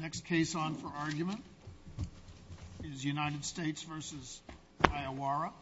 Next case on for argument is U.S. v. Iowara.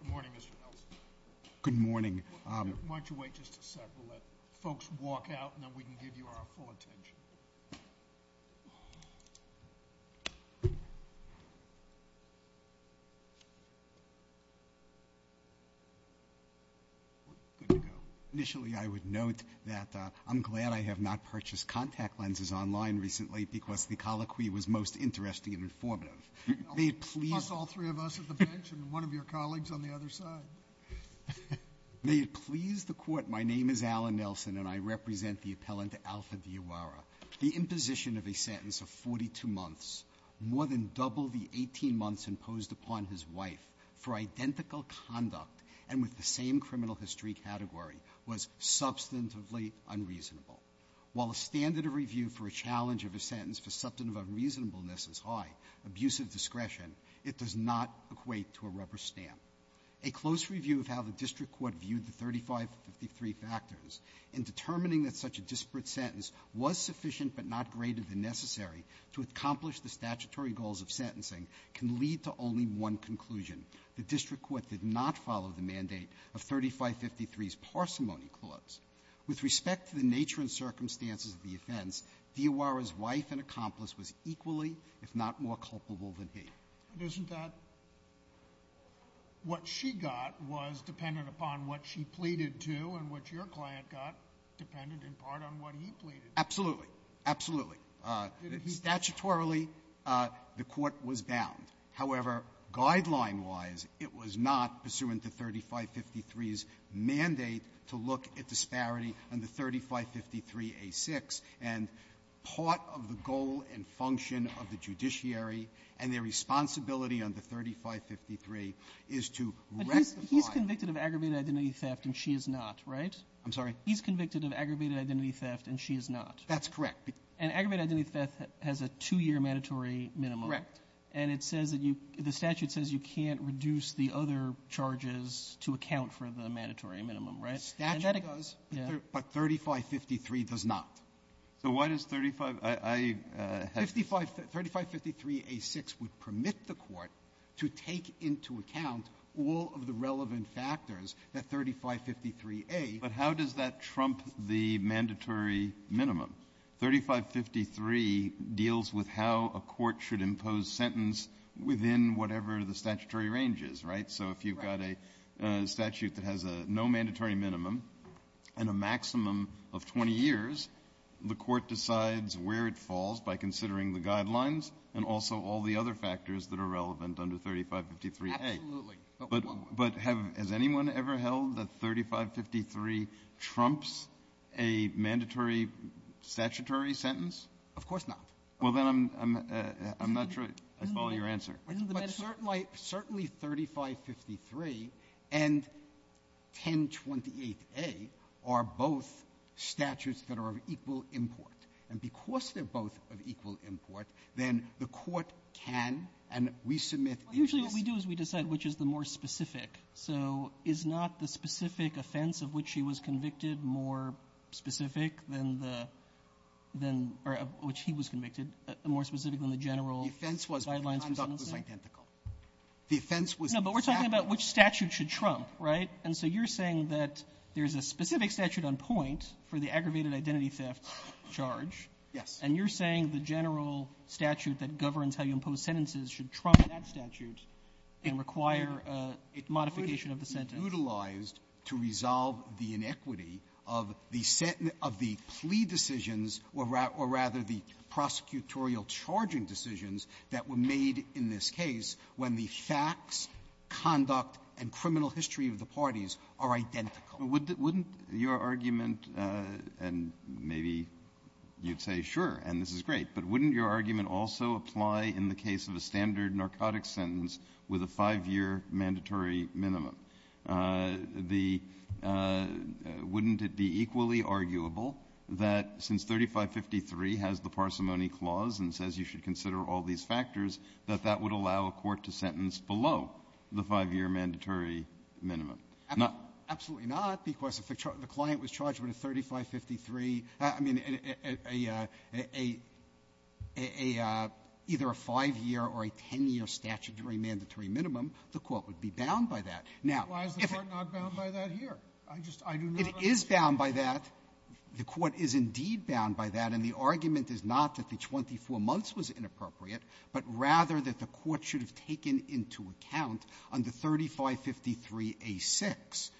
Good morning, Mr. Nelson. Good morning. Why don't you wait just a second? We'll let folks walk out, and then we can give you our full attention. Good to go. Initially, I would note that I'm glad I have not purchased contact lenses online recently because the colloquy was most interesting and informative. May it please the Court. My name is Alan Nelson, and I represent the appellant, Alpha v. Iowara. The imposition of a sentence of 42 months, more than double the 18 months imposed upon his wife for identical conduct and with the same criminal history category, was substantively unreasonable. While a standard of review for a challenge of a sentence for substantive unreasonableness is high, abusive discretion, it does not equate to a rubber stamp. A close review of how the district court viewed the 3553 factors in determining that such a disparate sentence was sufficient but not greater than necessary to accomplish the statutory goals of sentencing can lead to only one conclusion. The district court did not follow the mandate of 3553's parsimony clause. With respect to the nature and circumstances of the offense, Iowara's wife and accomplice was equally, if not more, culpable than he. But isn't that what she got was dependent upon what she pleaded to and what your client got depended in part on what he pleaded? Absolutely. Absolutely. Statutorily, the Court was bound. However, guideline-wise, it was not pursuant to 3553's mandate to look at disparity under 3553a6. And part of the goal and function of the judiciary and their responsibility under 3553 is to rectify. But he's convicted of aggravated identity theft, and she is not, right? I'm sorry? He's convicted of aggravated identity theft, and she is not. That's correct. And aggravated identity theft has a two-year mandatory minimum. Correct. And it says that you – the statute says you can't reduce the other charges to account for the mandatory minimum, right? The statute does, but 3553 does not. So why does 35 – I have to – 3553a6 would permit the Court to take into account all of the relevant factors that 3553a – But how does that trump the mandatory minimum? 3553 deals with how a court should impose sentence within whatever the statutory range is, right? Right. So if you've got a statute that has a no mandatory minimum and a maximum of 20 years, the Court decides where it falls by considering the guidelines and also all the other factors that are relevant under 3553a. Absolutely. But has anyone ever held that 3553 trumps a mandatory statutory sentence? Of course not. Well, then I'm not sure I follow your answer. But certainly 3553 and 1028a are both statutes that are of equal import. And because they're both of equal import, then the Court can, and we submit a list of – Well, usually what we do is we decide which is the more specific. So is not the specific offense of which he was convicted more specific than the – than – or which he was convicted more specific than the general guidelines was identical. The offense was – No, but we're talking about which statute should trump, right? And so you're saying that there's a specific statute on point for the aggravated identity theft charge. Yes. And you're saying the general statute that governs how you impose sentences should trump that statute and require a modification of the sentence. It could be utilized to resolve the inequity of the plea decisions, or rather the case when the facts, conduct, and criminal history of the parties are identical. Wouldn't your argument, and maybe you'd say, sure, and this is great, but wouldn't your argument also apply in the case of a standard narcotics sentence with a five-year mandatory minimum? The – wouldn't it be equally arguable that since 3553 has the sentence below the five-year mandatory minimum? Absolutely not, because if the client was charged with a 3553 – I mean, a – a – a – either a five-year or a ten-year statutory mandatory minimum, the Court would be bound by that. Now, if it – Why is the Court not bound by that here? I just – I do not understand. It is bound by that. The Court is indeed bound by that, and the argument is not that 24 months was inappropriate, but rather that the Court should have taken into account under 3553a6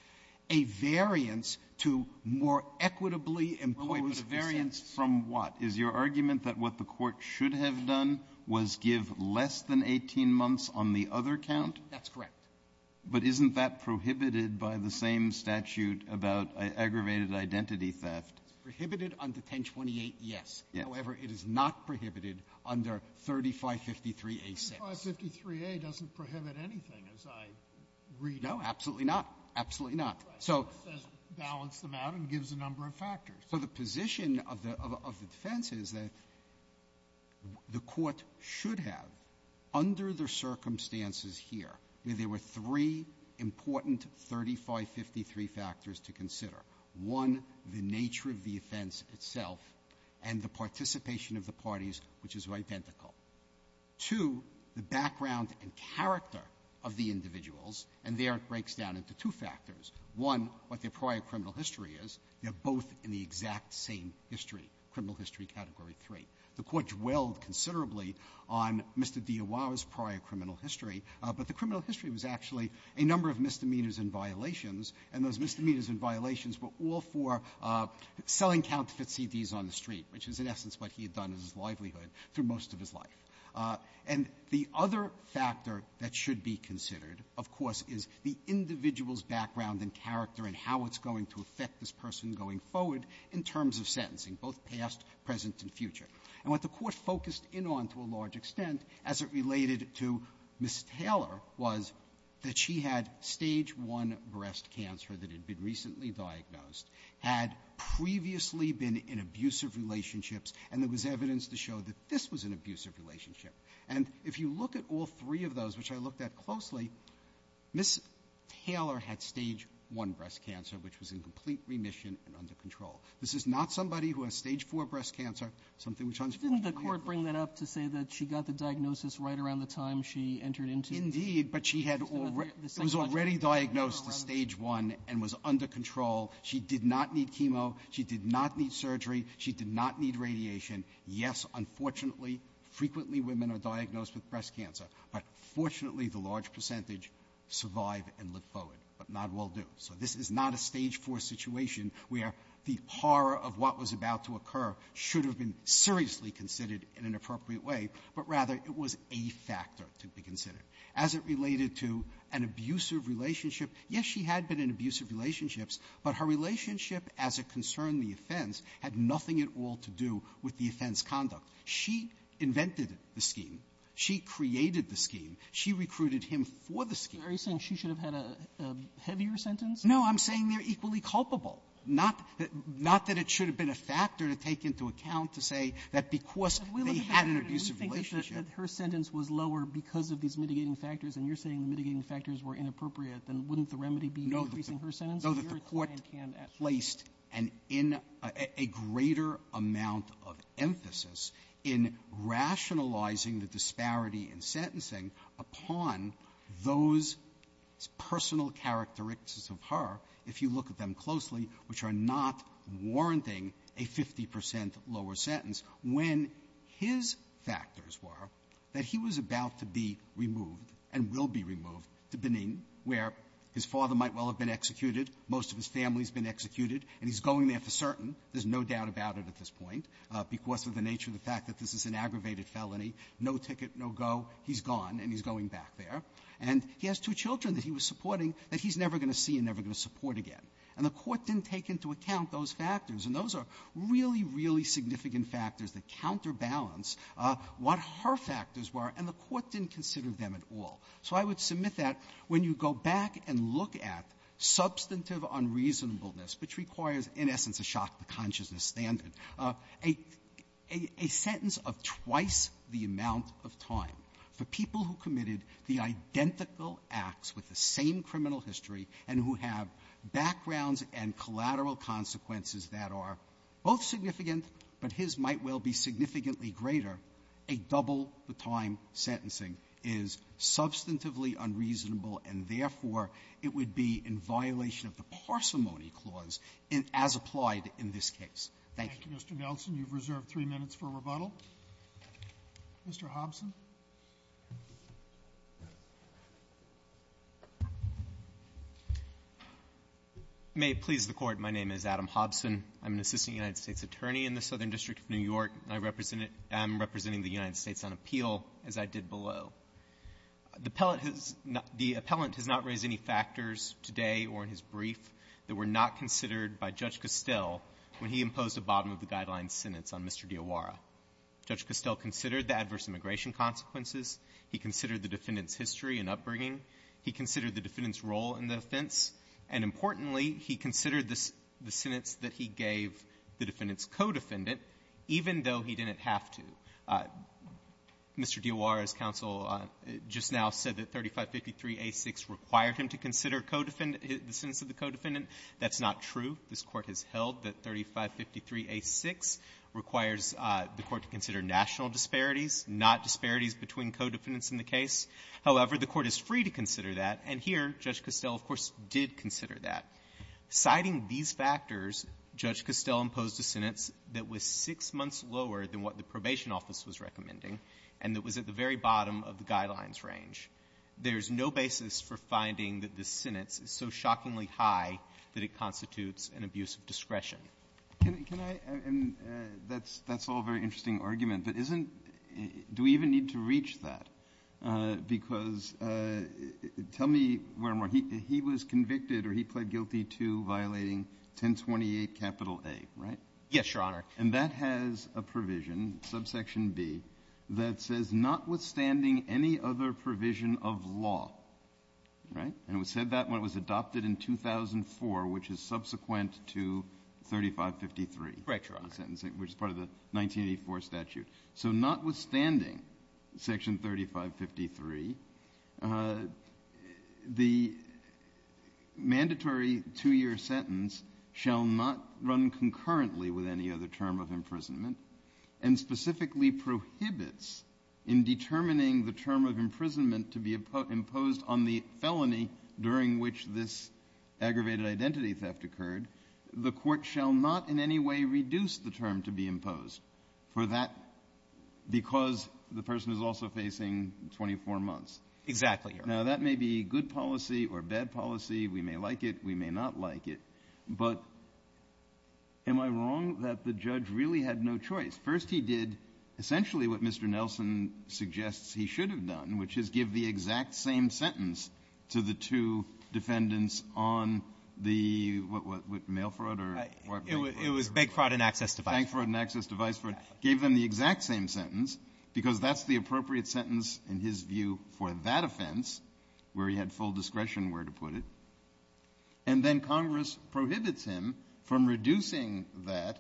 a variance to more equitably impose the sentence. Well, wait. But a variance from what? Is your argument that what the Court should have done was give less than 18 months on the other count? That's correct. But isn't that prohibited by the same statute about aggravated identity theft? It's prohibited under 1028, yes. However, it is not prohibited under 3553a6. 3553a doesn't prohibit anything, as I read it. No, absolutely not. Absolutely not. So – It says balance them out and gives a number of factors. So the position of the – of the defense is that the Court should have, under the circumstances here, there were three important 3553 factors to consider. One, the nature of the offense itself, and the participation of the parties, which is identical. Two, the background and character of the individuals. And there it breaks down into two factors. One, what their prior criminal history is. They're both in the exact same history, criminal history Category 3. The Court dwelled considerably on Mr. Dior's prior criminal history, but the criminal history was actually a number of misdemeanors and violations, and those misdemeanors and violations were all for selling counterfeit CDs on the street, which is, in essence, what he had done in his livelihood through most of his life. And the other factor that should be considered, of course, is the individual's background and character and how it's going to affect this person going forward in terms of sentencing, both past, present, and future. And what the Court focused in on to a large extent as it related to Ms. Taylor was that she had Stage 1 breast cancer that had been recently diagnosed, had previously been in abusive relationships, and there was evidence to show that this was an abusive relationship. And if you look at all three of those, which I looked at closely, Ms. Taylor had Stage 1 breast cancer, which was in complete remission and under control. This is not somebody who has Stage 4 breast cancer, something which unfortunately you can't do. Didn't the Court bring that up to say that she got the diagnosis right around the time she entered into the ______? Indeed, but she had already ñ it was already diagnosed to Stage 1 and was under control. She did not need chemo. She did not need surgery. She did not need radiation. Yes, unfortunately, frequently women are diagnosed with breast cancer, but fortunately the large percentage survive and live forward, but not all do. So this is not a Stage 4 situation where the horror of what was about to occur should have been seriously considered in an appropriate way, but rather it was a factor to be considered. As it related to an abusive relationship, yes, she had been in abusive relationships, but her relationship as it concerned the offense had nothing at all to do with the offense conduct. She invented the scheme. She created the scheme. She recruited him for the scheme. Are you saying she should have had a heavier sentence? No. I'm saying they're equally culpable, not that ñ not that it should have been a factor to take into account to say that because they had an abusive relationship But we look at it and we think that her sentence was lower because of these mitigating factors, and you're saying the mitigating factors were inappropriate, then wouldn't the remedy be increasing her sentence? No, that the Court placed an in ñ a greater amount of emphasis in rationalizing the disparity in sentencing upon those personal characteristics of her, if you look at them closely, which are not warranting a 50 percent lower sentence, when his factors were that he was about to be removed and will be removed to Benin, where his father might well have been executed, most of his family's been executed, and he's going there for certain, there's no doubt about it at this point, because of the nature of the fact that this is an aggravated felony, no ticket, no go, he's gone and he's going back there. And he has two children that he was supporting that he's never going to see and never going to support again. And the Court didn't take into account those factors, and those are really, really significant factors that counterbalance what her factors were, and the Court didn't consider them at all. So I would submit that when you go back and look at substantive unreasonableness, which requires in essence a shock to consciousness standard, a sentence of twice the amount of time for people who committed the identical acts with the same criminal history and who have backgrounds and collateral consequences that are both significant but his might well be significantly greater, a double-the-time sentencing is substantively unreasonable and therefore it would be in violation of the parsimony clause as applied in this case. Thank you. Roberts. Mr. Nelson, you've reserved three minutes for rebuttal. Mr. Hobson. Hobson. Hobson. May it please the Court, my name is Adam Hobson. I'm an assistant United States attorney in the Southern District of New York. I represent the United States on appeal, as I did below. The appellant has not raised any factors today or in his brief that were not considered by Judge Castell when he imposed a bottom-of-the-guideline sentence on Mr. D'Iawara. Judge Castell considered the adverse immigration consequences. He considered the defendant's history and upbringing. He considered the defendant's role in the offense. And importantly, he considered the sentence that he gave the defendant's co-defendant, even though he didn't have to. Mr. D'Iawara's counsel just now said that 3553a6 required him to consider co-defendant the sentence of the co-defendant. That's not true. This Court has held that 3553a6 requires the Court to consider national disparities, not disparities between co-defendants in the case. However, the Court is free to consider that. And here, Judge Castell, of course, did consider that. Citing these factors, Judge Castell's sentence was six months lower than what the probation office was recommending and it was at the very bottom of the guidelines range. There's no basis for finding that this sentence is so shockingly high that it constitutes an abuse of discretion. Kennedy. And that's all a very interesting argument. But isn't do we even need to reach that? Because tell me where he was convicted or he pled guilty to violating 1028A, right? Yes, Your Honor. And that has a provision, subsection b, that says notwithstanding any other provision of law, right? And it said that when it was adopted in 2004, which is subsequent to 3553, which is part of the 1984 statute. So notwithstanding section 3553, the mandatory two-year sentence shall not run concurrently with any other term of imprisonment and specifically prohibits in determining the term of imprisonment to be imposed on the felony during which this aggravated identity theft occurred, the Court shall not in any way reduce the term to be imposed for that because the person is also facing 24 months. Exactly, Your Honor. Now, that may be good policy or bad policy. We may like it. We may not like it. But am I wrong that the judge really had no choice? First, he did essentially what Mr. Nelson suggests he should have done, which is give the exact same sentence to the two defendants on the, what, mail fraud or bank fraud? It was bank fraud and access to vice fraud. Bank fraud and access to vice fraud. Gave them the exact same sentence because that's the appropriate sentence in his view for that offense where he had full discretion where to put it. And then Congress prohibits him from reducing that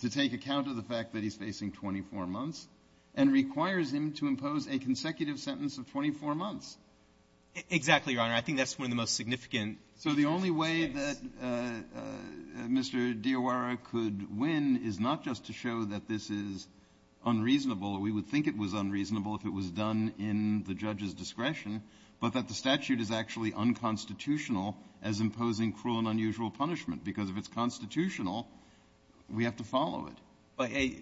to take account of the fact that he's facing 24 months and requires him to impose a consecutive sentence of 24 months. Exactly, Your Honor. I think that's one of the most significant. So the only way that Mr. Diora could win is not just to show that this is unreasonable or we would think it was unreasonable if it was done in the judge's discretion, but that the statute is actually unconstitutional as imposing cruel and unusual punishment, because if it's constitutional, we have to follow it.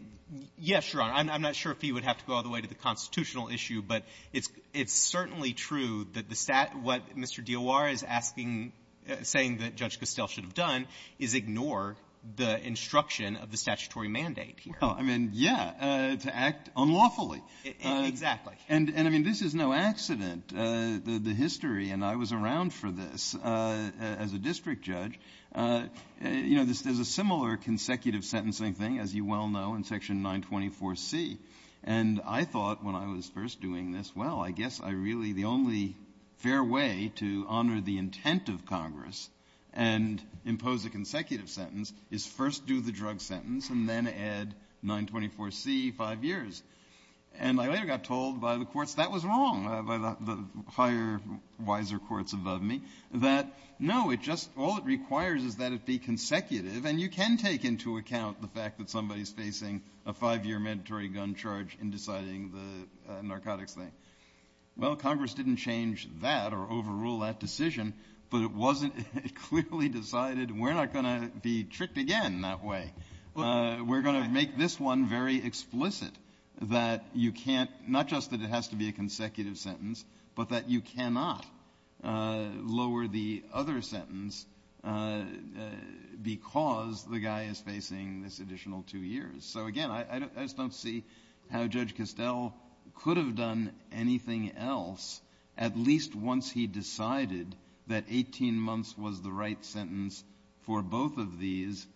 Yes, Your Honor. I'm not sure if he would have to go all the way to the constitutional issue, but it's certainly true that the stat what Mr. Diora is asking, saying that Judge Castell should have done is ignore the instruction of the statutory mandate here. Well, I mean, yeah, to act unlawfully. Exactly. And, I mean, this is no accident. The history, and I was around for this as a district judge, you know, there's a similar consecutive sentencing thing, as you well know, in Section 924C. And I thought when I was first doing this, well, I guess I really the only fair way to honor the intent of Congress and impose a consecutive sentence is first do the drug sentence and then add 924C, 5 years. And I later got told by the courts that was wrong, by the higher, wiser courts above me, that no, it just, all it requires is that it be consecutive, and you can take into account the fact that somebody's facing a 5-year mandatory gun charge in deciding the narcotics thing. Well, Congress didn't change that or overrule that decision, but it wasn't, it clearly decided we're not going to be tricked again that way. We're going to make this one very explicit, that you can't, not just that it has to be a consecutive sentence, but that you cannot lower the other sentence because the guy is facing this additional 2 years. So, again, I just don't see how Judge Castell could have done anything else, at least once he decided that 18 months was the right sentence for both of these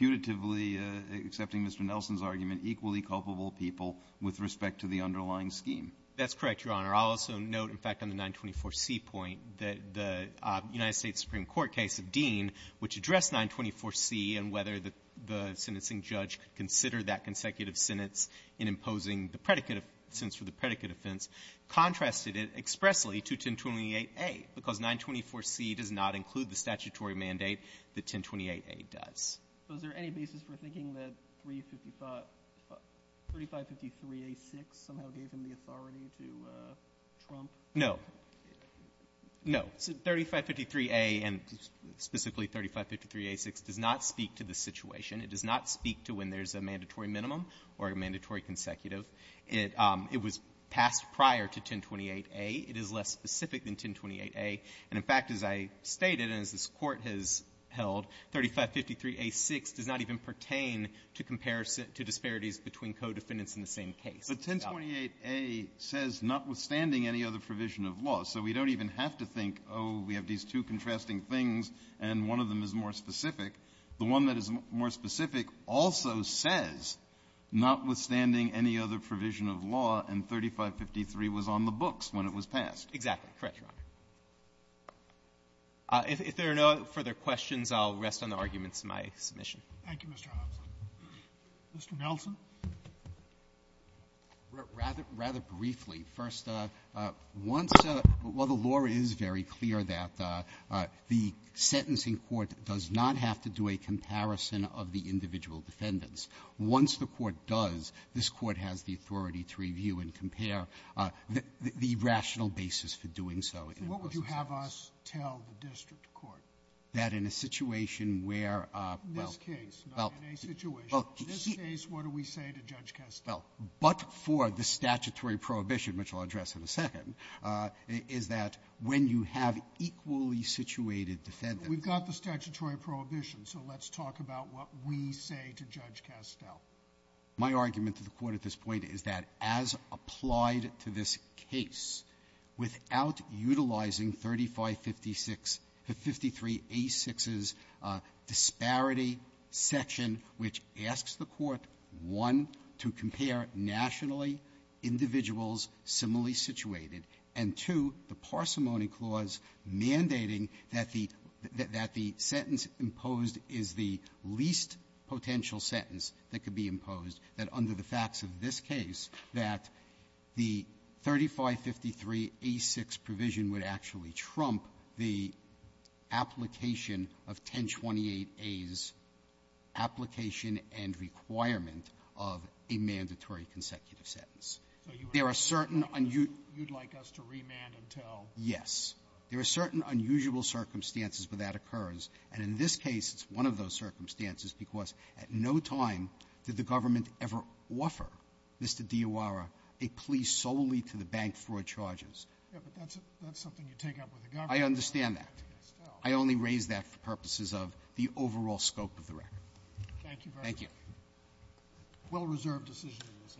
putatively, accepting Mr. Nelson's argument, equally culpable people with respect to the underlying scheme. That's correct, Your Honor. I'll also note, in fact, on the 924C point, that the United States Supreme Court case of Dean, which addressed 924C and whether the sentencing judge could consider that consecutive sentence in imposing the predicate of the predicate offense, contrasted it expressly to 1028A, because 924C does not include the statutory mandate that 1028A does. So is there any basis for thinking that 3553A6 somehow gave him the authority to trump? No. No. 3553A and specifically 3553A6 does not speak to the situation. It does not speak to when there's a mandatory minimum or a mandatory consecutive. It was passed prior to 1028A. It is less specific than 1028A. And, in fact, as I stated and as this Court has held, 3553A6 does not even pertain to disparities between codefendants in the same case. But 1028A says notwithstanding any other provision of law. So we don't even have to think, oh, we have these two contrasting things and one of them is more specific. The one that is more specific also says notwithstanding any other provision of law, and 3553 was on the books when it was passed. Exactly. Correct, Your Honor. If there are no further questions, I'll rest on the arguments in my submission. Thank you, Mr. Hobson. Mr. Nelson. Rather briefly. First, once the law is very clear that the sentencing court does not have to decide to do a comparison of the individual defendants, once the court does, this Court has the authority to review and compare the rational basis for doing so. So what would you have us tell the district court? That in a situation where, well — In this case, not in a situation. In this case, what do we say to Judge Kastel? Well, but for the statutory prohibition, which I'll address in a second, is that when you have equally situated defendants — We've got the statutory prohibition, so let's talk about what we say to Judge Kastel. My argument to the Court at this point is that, as applied to this case, without utilizing 3556 — 5386's disparity section, which asks the Court, one, to compare nationally individuals similarly situated, and, two, the parsimony clause mandating that the — that the sentence imposed is the least potential sentence that could be imposed, that under the facts of this case, that the 3553A6 provision would actually trump the application of 1028A's application and requirement of a mandatory consecutive sentence. There are certain — You'd like us to remand until — Yes. There are certain unusual circumstances where that occurs, and in this case, it's one of those circumstances because at no time did the government ever offer Mr. Diora a plea solely to the bank fraud charges. Yes, but that's something you take up with the government. I understand that. Judge Kastel. I only raise that for purposes of the overall scope of the record. Thank you very much. Thank you. Well-reserved decision in this case.